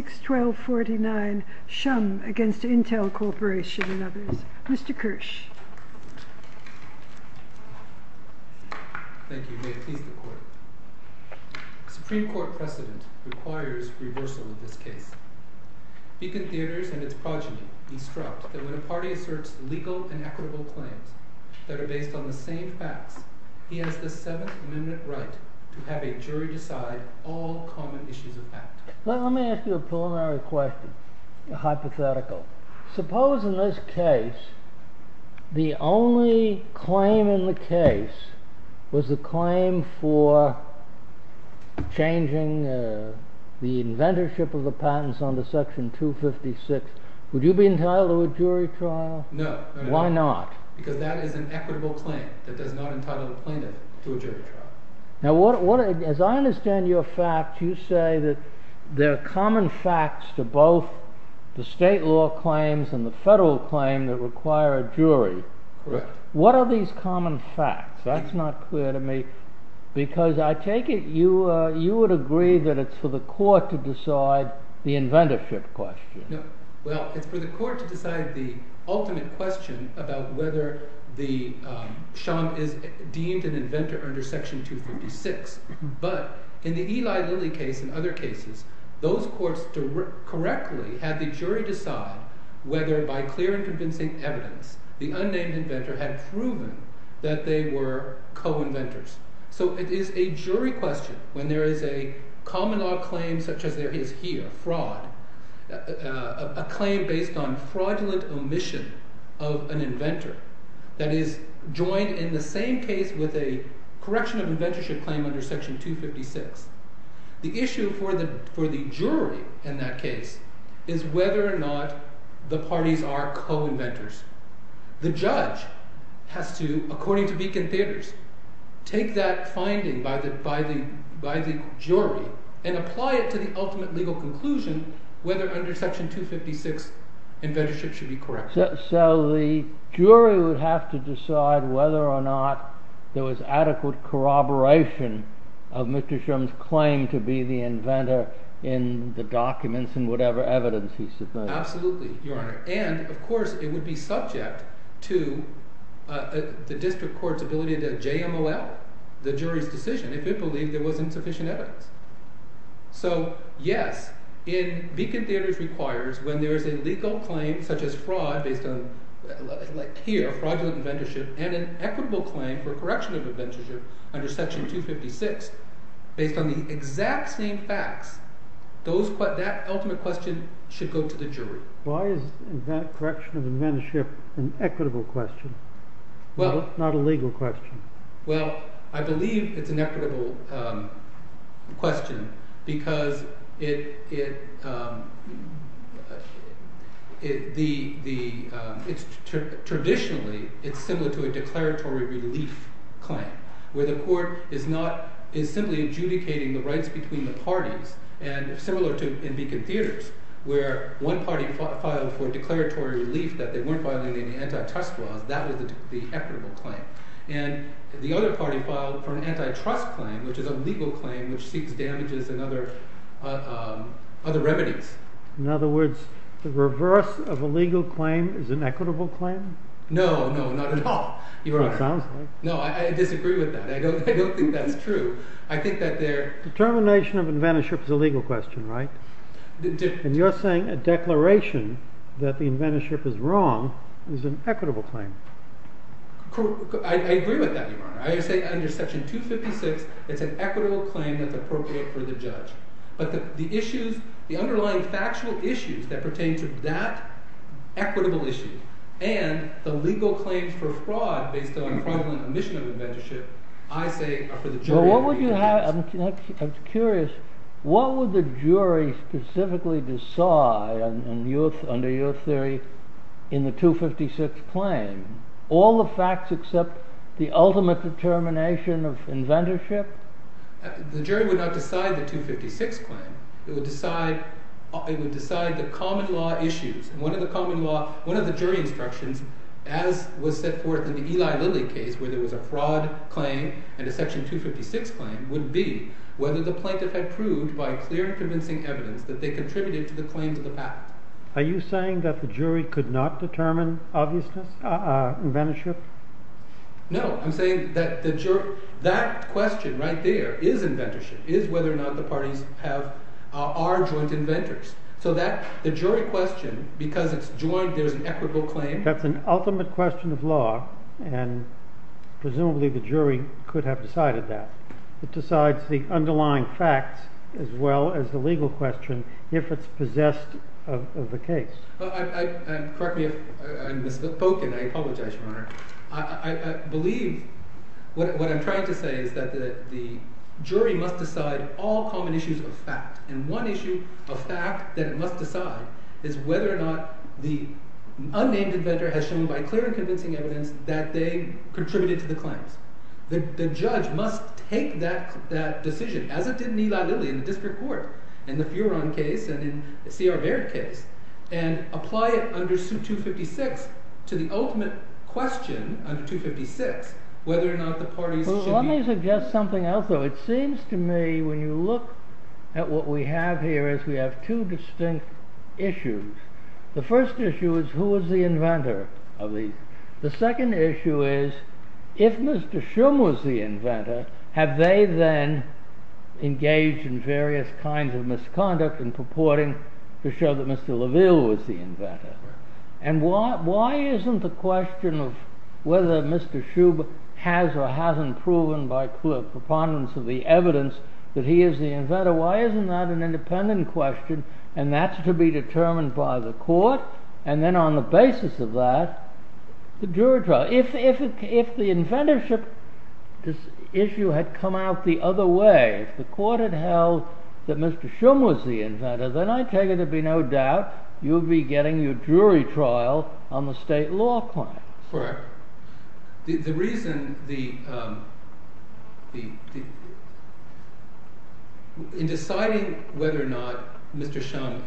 Supreme Court precedent requires reversal of this case. Beacon Theatres and its progeny destruct that when a party asserts legal and equitable claims that are based on the same facts, he has the 7th Amendment right to have a jury decide all common issues of fact. Let me ask you a preliminary hypothetical. Suppose in this case the only claim in the case was the claim for changing the inventorship of the patents under section 256. Would you be entitled to a jury trial? No. Why not? Because that is an equitable claim that does not entitle the plaintiff to a jury trial. As I understand your fact, you say that there are common facts to both the state law claims and the federal claims that require a jury. Correct. What are these common facts? That's not clear to me because I take it you would agree that it's for the court to decide the inventorship question. Well, it's for the court to decide the ultimate question about whether Shum is deemed an inventor under section 256. But in the Eli Lilly case and other cases, those courts correctly had the jury decide whether by clear and convincing evidence the unnamed inventor had proven that they were co-inventors. So it is a jury question when there is a common law claim such as there is here, fraud, a claim based on fraudulent omission of an inventor that is joined in the same case with a correction of inventorship claim under section 256. The issue for the jury in that case is whether or not the parties are co-inventors. The judge has to, according to Beacon Theaters, take that finding by the jury and apply it to the ultimate legal conclusion whether under section 256 inventorship should be corrected. So the jury would have to decide whether or not there was adequate corroboration of Mr. Shum's claim to be the inventor in the documents and whatever evidence he submitted. And, of course, it would be subject to the district court's ability to JMOL the jury's decision if it believed there wasn't sufficient evidence. So, yes, in Beacon Theaters requires when there is a legal claim such as fraud based on fraudulent inventorship and an equitable claim for correction of inventorship under section 256 based on the exact same facts, that ultimate question should go to the jury. Why is correction of inventorship an equitable question, not a legal question? Well, I believe it's an equitable question because traditionally it's similar to a declaratory relief claim where the court is simply adjudicating the rights between the parties. And similar to in Beacon Theaters where one party filed for declaratory relief that they weren't filing any antitrust laws, that was the equitable claim. And the other party filed for an antitrust claim, which is a legal claim which seeks damages and other remedies. In other words, the reverse of a legal claim is an equitable claim? No, no, not at all, Your Honor. It sounds like. No, I disagree with that. I don't think that's true. I think that there… The determination of inventorship is a legal question, right? And you're saying a declaration that the inventorship is wrong is an equitable claim. I agree with that, Your Honor. I say under section 256 it's an equitable claim that's appropriate for the judge. But the underlying factual issues that pertain to that equitable issue and the legal claim for fraud based on fraudulent omission of inventorship, I say are for the jury to read. I'm curious. What would the jury specifically decide under your theory in the 256 claim? All the facts except the ultimate determination of inventorship? The jury would not decide the 256 claim. It would decide the common law issues. One of the jury instructions, as was set forth in the Eli Lilly case where there was a fraud claim and a section 256 claim, would be whether the plaintiff had proved by clear and convincing evidence that they contributed to the claims of the patent. Are you saying that the jury could not determine inventorship? No. I'm saying that that question right there is inventorship, is whether or not the parties are joint inventors. So the jury question, because it's joint, there's an equitable claim. That's an ultimate question of law, and presumably the jury could have decided that. It decides the underlying facts as well as the legal question if it's possessed of the case. Correct me if I'm misspoken. I apologize, Your Honor. I believe what I'm trying to say is that the jury must decide all common issues of fact. And one issue of fact that it must decide is whether or not the unnamed inventor has shown by clear and convincing evidence that they contributed to the claims. The judge must take that decision, as it did in Eli Lilly in the district court, in the Furon case and in the C.R. Baird case, and apply it under suit 256 to the ultimate question under 256 whether or not the parties should be… If Mr. Shum was the inventor, have they then engaged in various kinds of misconduct in purporting to show that Mr. Laville was the inventor? And why isn't the question of whether Mr. Shum has or hasn't proven by clear preponderance of the evidence that he is the inventor, why isn't that an independent question and that's to be determined by the court? And then on the basis of that, the jury trial. If the inventorship issue had come out the other way, if the court had held that Mr. Shum was the inventor, then I take it to be no doubt you would be getting your jury trial on the state law claim. Correct. In deciding whether or not Mr. Shum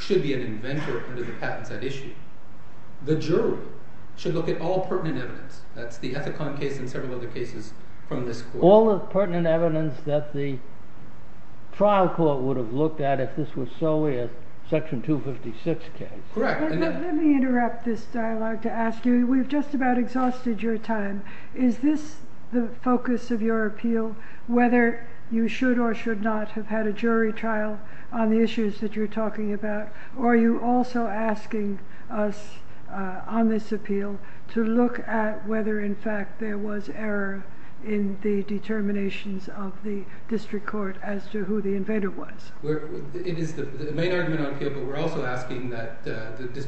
should be an inventor under the patent side issue, the jury should look at all pertinent evidence. That's the Ethicon case and several other cases from this court. All the pertinent evidence that the trial court would have looked at if this was solely a section 256 case. Let me interrupt this dialogue to ask you, we've just about exhausted your time. Is this the focus of your appeal, whether you should or should not have had a jury trial on the issues that you're talking about, or are you also asking us on this appeal to look at whether in fact there was error in the determinations of the district court as to who the inventor was? It is the main argument on appeal, but we're also asking that this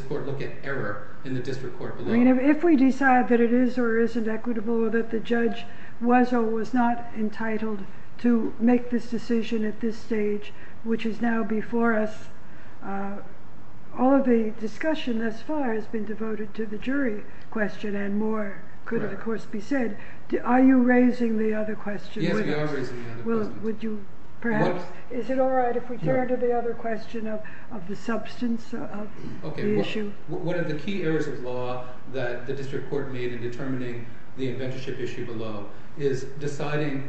court look at error in the district court. If we decide that it is or isn't equitable or that the judge was or was not entitled to make this decision at this stage, which is now before us, all of the discussion thus far has been devoted to the jury question and more could of course be said. Are you raising the other question? Yes, we are raising the other question. Is it alright if we turn to the other question of the substance of the issue? One of the key errors of law that the district court made in determining the inventorship issue below is deciding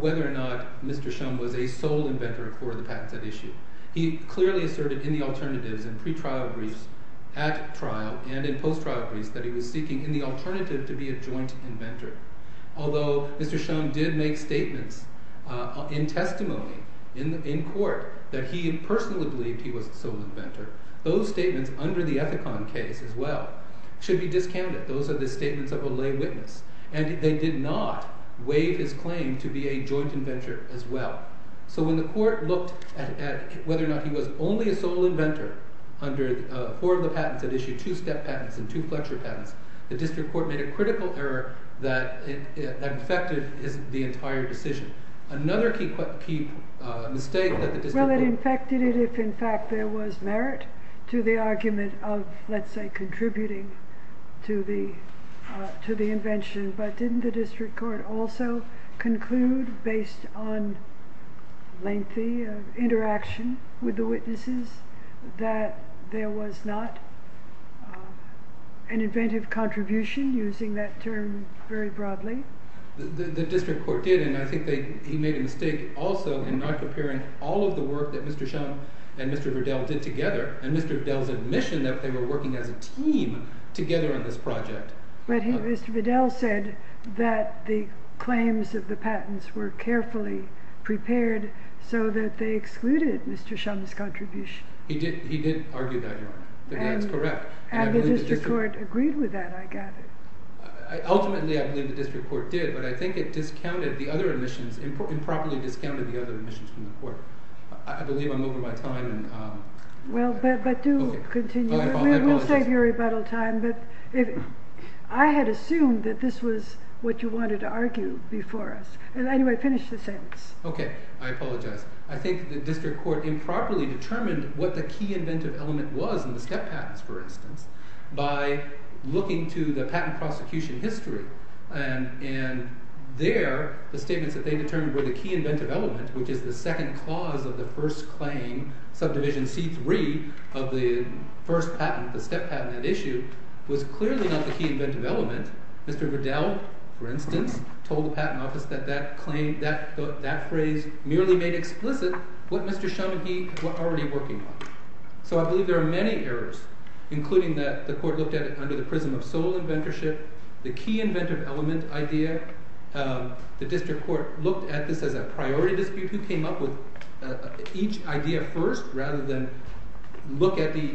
whether or not Mr. Shum was a sole inventor for the patents at issue. He clearly asserted in the alternatives and pre-trial briefs at trial and in post-trial briefs that he was seeking in the alternative to be a joint inventor. Although Mr. Shum did make statements in testimony in court that he personally believed he was a sole inventor, those statements under the Ethicon case as well should be discounted. Those are the statements of a lay witness and they did not waive his claim to be a joint inventor as well. So when the court looked at whether or not he was only a sole inventor under four of the patents at issue, two STEP patents and two Fletcher patents, the district court made a critical error that affected the entire decision. Another key mistake that the district court... Well, it infected it if in fact there was merit to the argument of, let's say, contributing to the invention. But didn't the district court also conclude based on lengthy interaction with the witnesses that there was not an inventive contribution using that term very broadly? The district court did and I think he made a mistake also in not comparing all of the work that Mr. Shum and Mr. Vidal did together and Mr. Vidal's admission that they were working as a team together on this project. But Mr. Vidal said that the claims of the patents were carefully prepared so that they excluded Mr. Shum's contribution. He did argue that, Your Honor. That's correct. And the district court agreed with that, I gather. Ultimately, I believe the district court did, but I think it improperly discounted the other admissions from the court. I believe I'm over my time. Well, but do continue. We'll save your rebuttal time, but I had assumed that this was what you wanted to argue before us. Anyway, finish the sentence. Okay, I apologize. I think the district court improperly determined what the key inventive element was in the STEP patents, for instance, by looking to the patent prosecution history. And there, the statements that they determined were the key inventive element, which is the second clause of the first claim, subdivision C3 of the first patent, the STEP patent at issue, was clearly not the key inventive element. Mr. Vidal, for instance, told the patent office that that phrase merely made explicit what Mr. Shum and he were already working on. So I believe there are many errors, including that the court looked at it under the prism of sole inventorship, the key inventive element idea. The district court looked at this as a priority dispute who came up with each idea first rather than look at the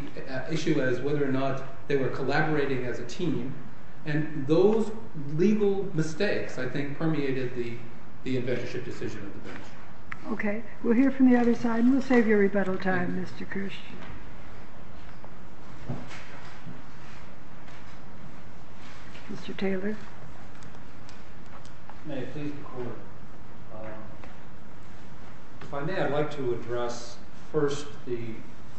issue as whether or not they were collaborating as a team. And those legal mistakes, I think, permeated the inventorship decision of the bench. Okay, we'll hear from the other side, and we'll save your rebuttal time, Mr. Kirsch. Mr. Taylor. If I may, I'd like to address first the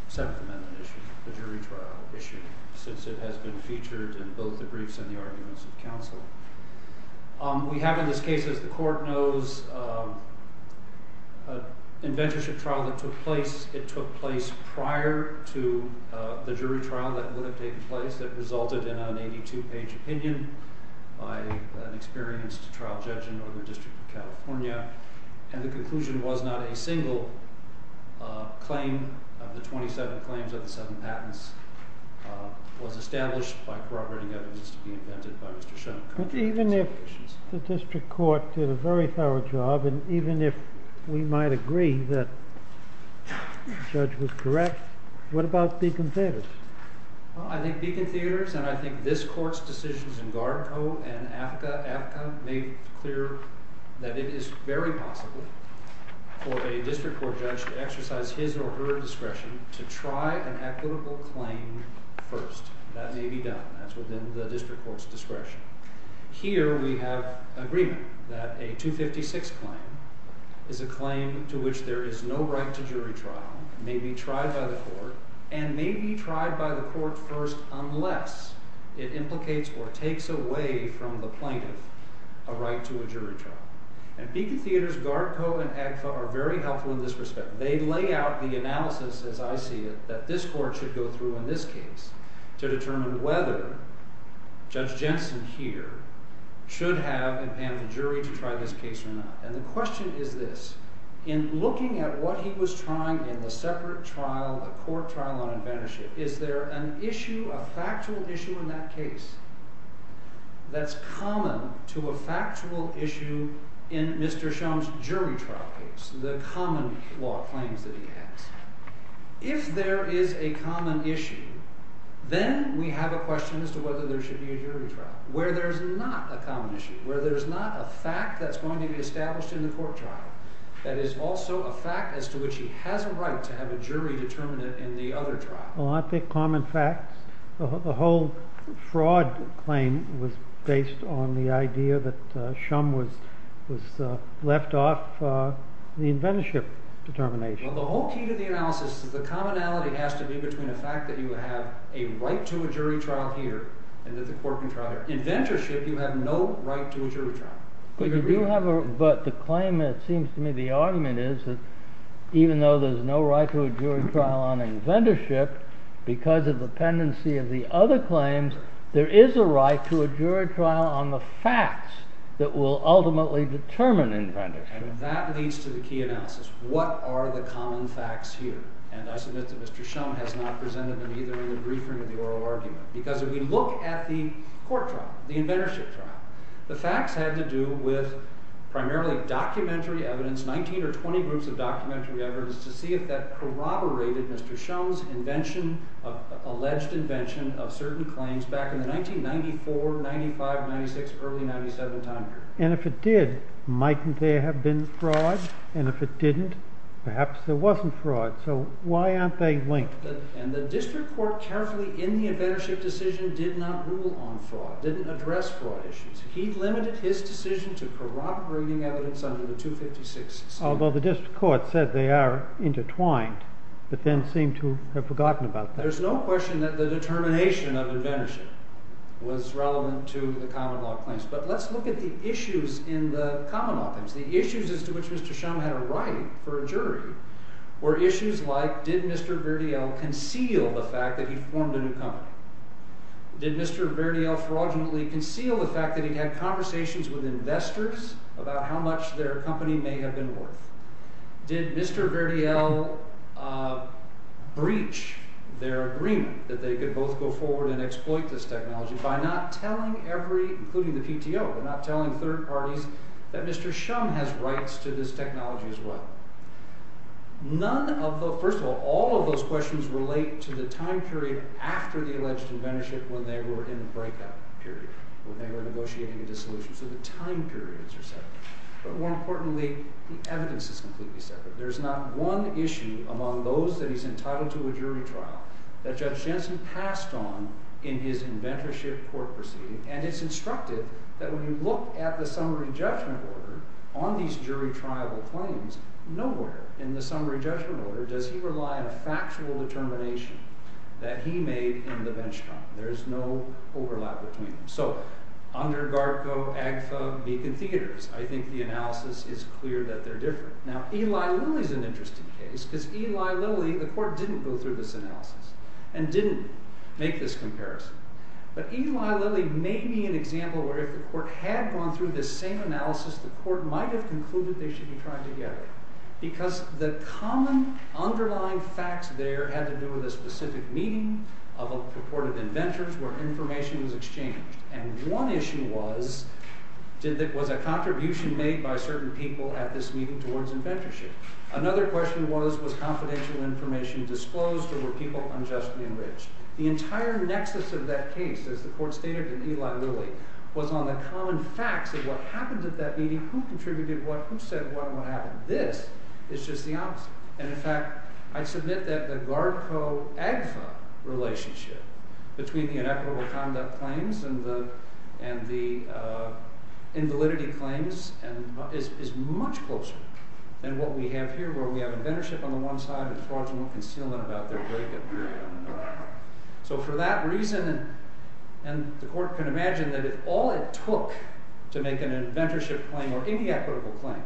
Seventh Amendment issue, the jury trial issue, since it has been featured in both the briefs and the arguments of counsel. We have in this case, as the court knows, an inventorship trial that took place. It took place prior to the jury trial that would have taken place that resulted in an 82-page opinion by an experienced trial judge in Northern District of California. And the conclusion was not a single claim of the 27 claims of the seven patents was established by corroborating evidence to be invented by Mr. Schoen. But even if the district court did a very thorough job, and even if we might agree that the judge was correct, what about Beacon Theaters? Well, I think Beacon Theaters and I think this court's decisions in Gardco and AFCA made clear that it is very possible for a district court judge to exercise his or her discretion to try an equitable claim first. That may be done. That's within the district court's discretion. Here we have agreement that a 256 claim is a claim to which there is no right to jury trial, may be tried by the court, and may be tried by the court first unless it implicates or takes away from the plaintiff a right to a jury trial. And Beacon Theaters, Gardco, and AGFA are very helpful in this respect. They lay out the analysis, as I see it, that this court should go through in this case to determine whether Judge Jensen here should have impaned the jury to try this case or not. And the question is this. In looking at what he was trying in the separate trial, the court trial on advantage, is there an issue, a factual issue in that case that's common to a factual issue in Mr. Schoen's jury trial case, the common law claims that he has? If there is a common issue, then we have a question as to whether there should be a jury trial, where there's not a common issue, where there's not a fact that's going to be established in the court trial that is also a fact as to which he has a right to have a jury determinant in the other trial. Well, I think common facts, the whole fraud claim was based on the idea that Schum was left off the inventorship determination. Well, the whole key to the analysis is the commonality has to be between a fact that you have a right to a jury trial here and that the court can try there. In inventorship, you have no right to a jury trial. But you do have a—but the claim, it seems to me, the argument is that even though there's no right to a jury trial on inventorship, because of the pendency of the other claims, there is a right to a jury trial on the facts that will ultimately determine inventorship. And that leads to the key analysis. What are the common facts here? And I submit that Mr. Schum has not presented them either in the briefing or the oral argument. Because if we look at the court trial, the inventorship trial, the facts had to do with primarily documentary evidence, 19 or 20 groups of documentary evidence, to see if that corroborated Mr. Schum's invention, alleged invention, of certain claims back in the 1994, 1995, 1996, early 1997 time period. And if it did, mightn't there have been fraud? And if it didn't, perhaps there wasn't fraud. So why aren't they linked? And the district court carefully, in the inventorship decision, did not rule on fraud, didn't address fraud issues. He limited his decision to corroborating evidence under the 256. Although the district court said they are intertwined, but then seemed to have forgotten about that. There's no question that the determination of inventorship was relevant to the common law claims. But let's look at the issues in the common law claims. The issues as to which Mr. Schum had a right for a jury were issues like, did Mr. Verdiel conceal the fact that he formed a new company? Did Mr. Verdiel fraudulently conceal the fact that he had conversations with investors about how much their company may have been worth? Did Mr. Verdiel breach their agreement that they could both go forward and exploit this technology by not telling every, including the PTO, by not telling third parties that Mr. Schum has rights to this technology as well? None of the, first of all, all of those questions relate to the time period after the alleged inventorship when they were in the breakout period, when they were negotiating a dissolution. So the time periods are separate. But more importantly, the evidence is completely separate. There's not one issue among those that he's entitled to a jury trial that Judge Jensen passed on in his inventorship court proceeding. And it's instructive that when you look at the summary judgment order on these jury trial claims, nowhere in the summary judgment order does he rely on a factual determination that he made in the benchmark. There's no overlap between them. So, under GARCO, AGFA, Beacon Theaters, I think the analysis is clear that they're different. Now, Eli Lilly's an interesting case, because Eli Lilly, the court didn't go through this analysis and didn't make this comparison. But Eli Lilly may be an example where if the court had gone through this same analysis, the court might have concluded they should be trying together. Because the common underlying facts there had to do with a specific meeting of purported inventors where information was exchanged. And one issue was, was a contribution made by certain people at this meeting towards inventorship. Another question was, was confidential information disclosed or were people unjustly enriched? The entire nexus of that case, as the court stated in Eli Lilly, was on the common facts of what happened at that meeting, who contributed what, who said what, and what happened. This is just the opposite. And in fact, I submit that the GARCO-AGFA relationship between the inequitable conduct claims and the invalidity claims is much closer than what we have here, where we have inventorship on the one side and fraudulent concealment about their break-up period on the other. So for that reason, and the court can imagine that if all it took to make an inventorship claim or any equitable claim,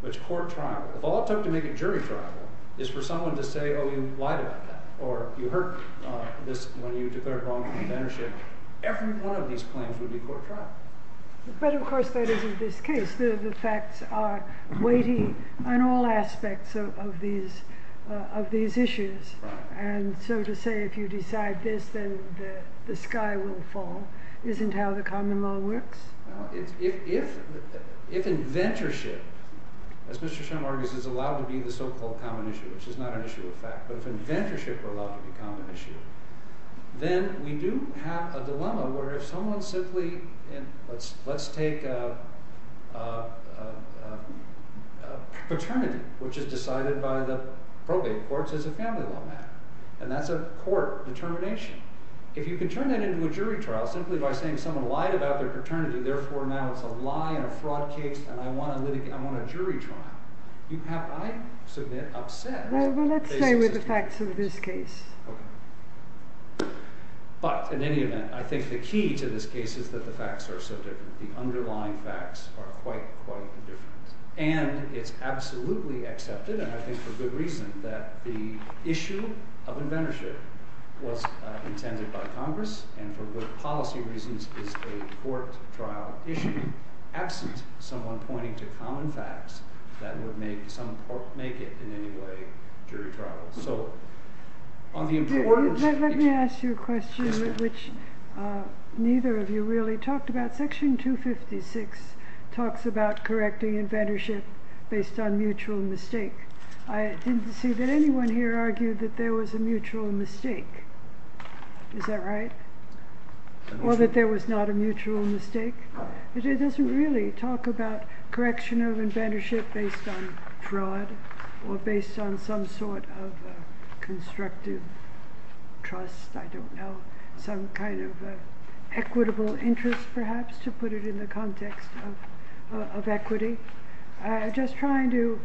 which court trial, if all it took to make a jury trial, is for someone to say, oh, you lied about that, or you hurt this when you declared wrong on inventorship, every one of these claims would be court trial. But of course that isn't this case. The facts are weighty on all aspects of these issues. And so to say, if you decide this, then the sky will fall, isn't how the common law works? If inventorship, as Mr. Shem argues, is allowed to be the so-called common issue, which is not an issue of fact, but if inventorship were allowed to be a common issue, then we do have a dilemma where if someone simply, let's take paternity, which is decided by the probate courts as a family law matter, and that's a court determination. If you can turn that into a jury trial simply by saying someone lied about their paternity, therefore now it's a lie and a fraud case and I want a jury trial, you have, I submit, upset. Well, let's stay with the facts of this case. But in any event, I think the key to this case is that the facts are so different. The underlying facts are quite, quite different. And it's absolutely accepted, and I think for good reason, that the issue of inventorship was intended by Congress and for good policy reasons is a court trial issue, absent someone pointing to common facts that would make it, in any way, a jury trial. Let me ask you a question which neither of you really talked about. Section 256 talks about correcting inventorship based on mutual mistake. I didn't see that anyone here argued that there was a mutual mistake. Is that right? Well, that there was not a mutual mistake. It doesn't really talk about correction of inventorship based on fraud or based on some sort of constructive trust, I don't know, some kind of equitable interest, perhaps, to put it in the context of equity. I'm just trying to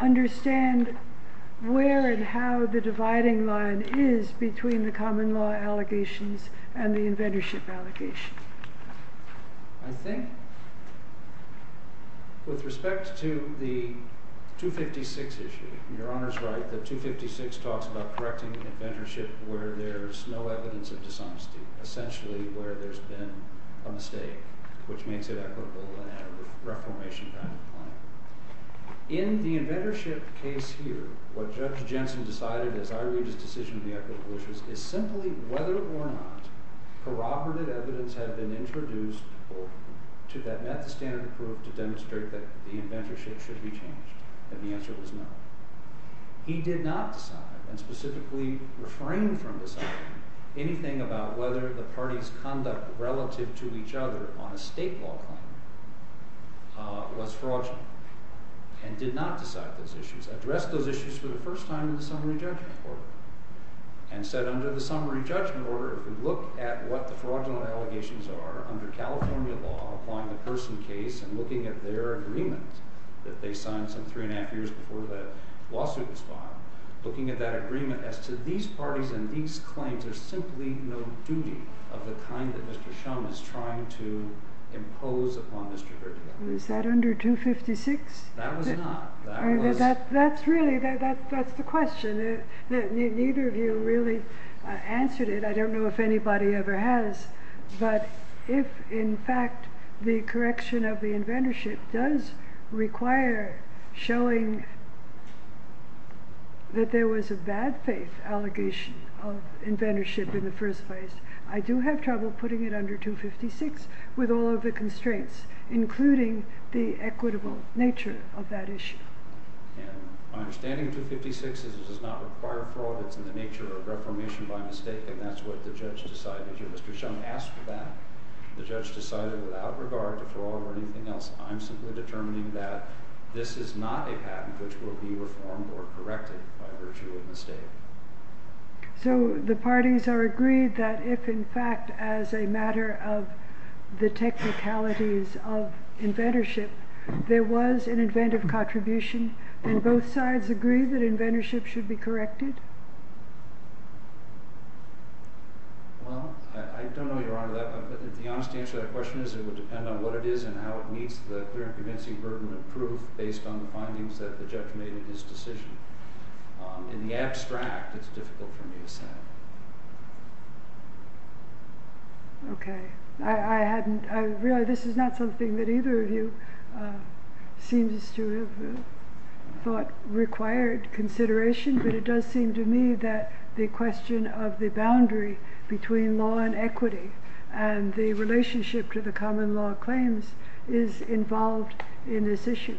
understand where and how the dividing line is between the common law allegations and the inventorship allegations. I think, with respect to the 256 issue, your Honor's right that 256 talks about correcting inventorship where there's no evidence of dishonesty, essentially, where there's been a mistake, which makes it equitable and a reformation kind of claim. In the inventorship case here, what Judge Jensen decided, as I read his decision on the equitable issues, is simply whether or not corroborative evidence had been introduced that met the standard of proof to demonstrate that the inventorship should be changed. And the answer was no. He did not decide, and specifically refrained from deciding, anything about whether the parties' conduct relative to each other on a state law claim was fraudulent, and did not decide those issues, addressed those issues for the first time in the Summary Judgment Order, and said, under the Summary Judgment Order, if we look at what the fraudulent allegations are under California law, applying the person case and looking at their agreement that they signed some three and a half years before the lawsuit was filed, looking at that agreement as to these parties and these claims, there's simply no duty of the kind that Mr. Shum is trying to impose upon Mr. Gertler. Was that under 256? That was not. That's really, that's the question. Neither of you really answered it. I don't know if anybody ever has. But if, in fact, the correction of the inventorship does require showing that there was a bad faith allegation of inventorship in the first place, I do have trouble putting it under 256 with all of the constraints, including the equitable nature of that issue. My understanding of 256 is that it does not require fraud. It's in the nature of reformation by mistake, and that's what the judge decided. Mr. Shum asked for that. The judge decided without regard to fraud or anything else. I'm simply determining that this is not a patent which will be reformed or corrected by virtue of mistake. So the parties are agreed that if, in fact, as a matter of the technicalities of inventorship, there was an inventive contribution, then both sides agree that inventorship should be corrected? Well, I don't know, Your Honor. The honest answer to that question is it would depend on what it is and how it meets the clear and convincing burden of proof based on the findings that the judge made in his decision. In the abstract, it's difficult for me to say. Okay. I realize this is not something that either of you seems to have thought required consideration, but it does seem to me that the question of the boundary between law and equity and the relationship to the common law claims is involved in this issue.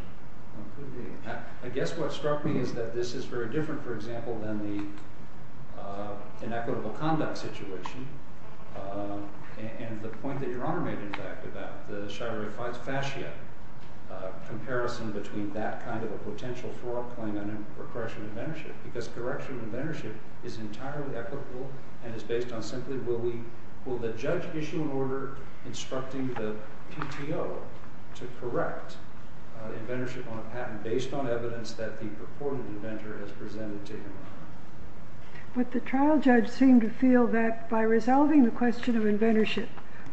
Well, it could be. I guess what struck me is that this is very different, for example, than the inequitable conduct situation, and the point that Your Honor made, in fact, about the shire of fascia comparison between that kind of a potential fraud claim and a correction of inventorship, because correction of inventorship is entirely equitable and is based on simply will the judge issue an order instructing the PTO to correct inventorship on a patent based on evidence that the purported inventor has presented to him. But the trial judge seemed to feel that by resolving the question of inventorship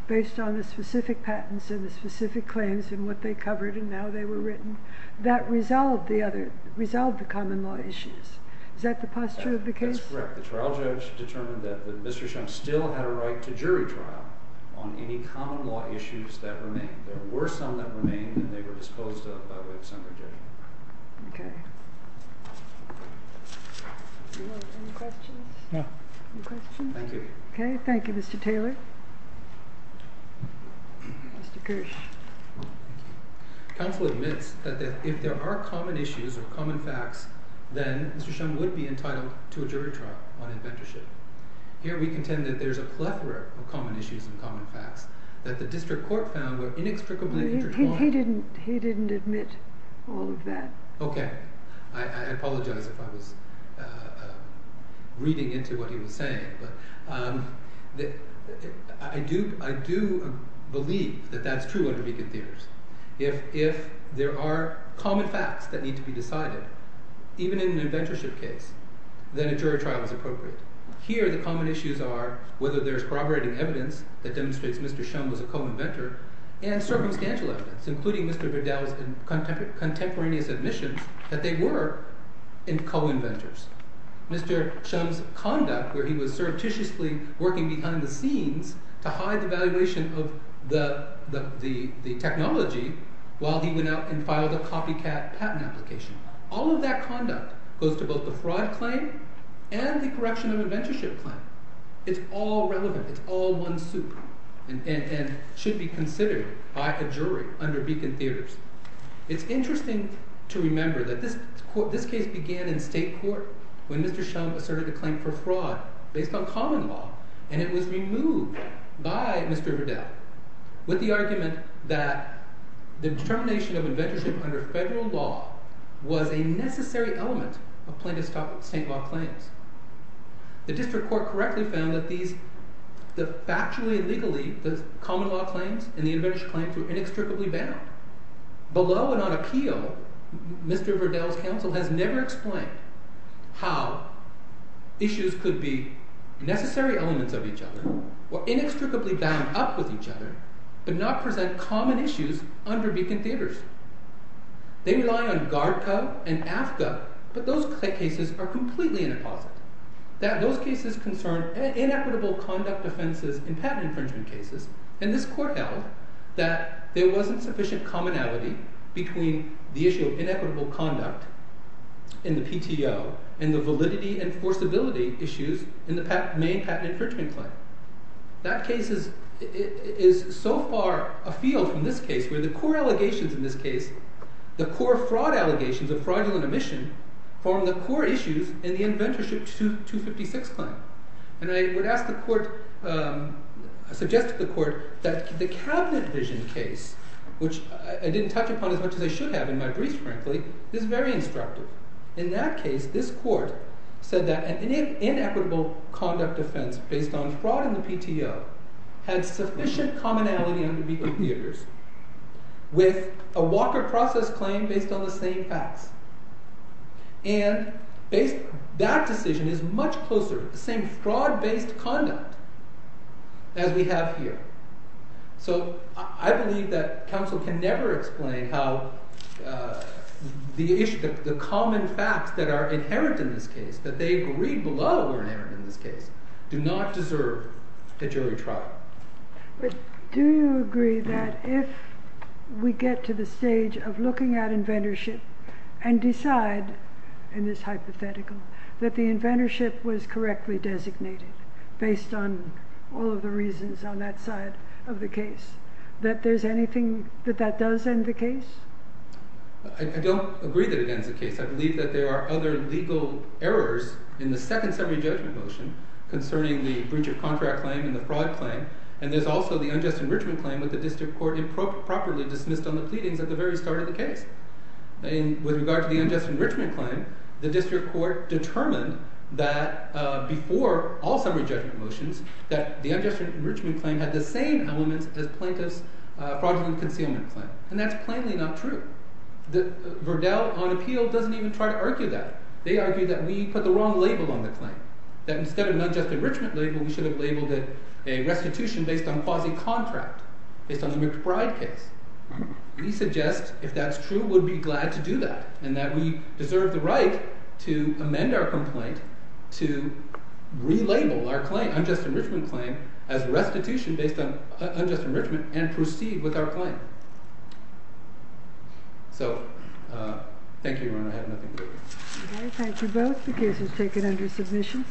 based on the specific patents and the specific claims and what they covered, and now they were written, that resolved the common law issues. Is that the posture of the case? That's correct. The trial judge determined that Mr. Shum still had a right to jury trial on any common law issues that remained. There were some that remained, and they were disposed of by way of summary judgment. Okay. Do you have any questions? No. Any questions? Thank you. Okay. Thank you, Mr. Taylor. Mr. Kirsch. Counsel admits that if there are common issues or common facts, then Mr. Shum would be entitled to a jury trial on inventorship. Here we contend that there's a plethora of common issues and common facts that the district court found were inextricably intertwined. He didn't admit all of that. Okay. I apologize if I was reading into what he was saying, but I do believe that that's true under Beacon Theorist. If there are common facts that need to be decided, even in an inventorship case, then a jury trial is appropriate. Here the common issues are whether there's corroborating evidence that demonstrates Mr. Shum was a co-inventor, and circumstantial evidence, including Mr. Vidal's contemporaneous admissions that they were co-inventors. Mr. Shum's conduct, where he was surreptitiously working behind the scenes to hide the valuation of the technology while he went out and filed a copycat patent application. All of that conduct goes to both the fraud claim and the correction of inventorship claim. It's all relevant. It's all one soup and should be considered by a jury under Beacon Theorist. It's interesting to remember that this case began in state court when Mr. Shum asserted a claim for fraud based on common law, and it was removed by Mr. Vidal with the argument that the determination of inventorship under federal law was a necessary element of plaintiff's state law claims. The district court correctly found that factually and legally the common law claims and the inventorship claims were inextricably bound. Below and on appeal, Mr. Vidal's counsel has never explained how issues could be necessary elements of each other or inextricably bound up with each other, but not present common issues under Beacon Theorist. They rely on GARDCA and AFCA, but those cases are completely inapposite. Those cases concern inequitable conduct offenses in patent infringement cases, and this court held that there wasn't sufficient commonality between the issue of inequitable conduct in the PTO and the validity and forcibility issues in the main patent infringement claim. That case is so far afield from this case where the core allegations in this case, the core fraud allegations of fraudulent omission, form the core issues in the inventorship 256 claim. And I would ask the court, suggest to the court that the cabinet vision case, which I didn't touch upon as much as I should have in my brief, frankly, is very instructive. In that case, this court said that an inequitable conduct offense based on fraud in the PTO had sufficient commonality under Beacon Theorist with a Walker process claim based on the same facts. And that decision is much closer to the same fraud-based conduct as we have here. So I believe that counsel can never explain how the common facts that are inherent in this case, that they agree below are inherent in this case, do not deserve a jury trial. But do you agree that if we get to the stage of looking at inventorship and decide, in this hypothetical, that the inventorship was correctly designated based on all of the reasons on that side of the case, that there's anything that that does end the case? I don't agree that it ends the case. I believe that there are other legal errors in the second summary judgment motion concerning the breach of contract claim and the fraud claim. And there's also the unjust enrichment claim with the district court improperly dismissed on the pleadings at the very start of the case. With regard to the unjust enrichment claim, the district court determined that before all summary judgment motions, that the unjust enrichment claim had the same elements as plaintiff's fraudulent concealment claim. And that's plainly not true. Verdell, on appeal, doesn't even try to argue that. They argue that we put the wrong label on the claim, that instead of an unjust enrichment label, we should have labeled it a restitution based on quasi-contract, based on the McBride case. We suggest, if that's true, we'd be glad to do that, and that we deserve the right to amend our complaint, to relabel our unjust enrichment claim as restitution based on unjust enrichment, and proceed with our claim. So, thank you, Your Honor. I have nothing more. Okay, thank you both. The case is taken under submission.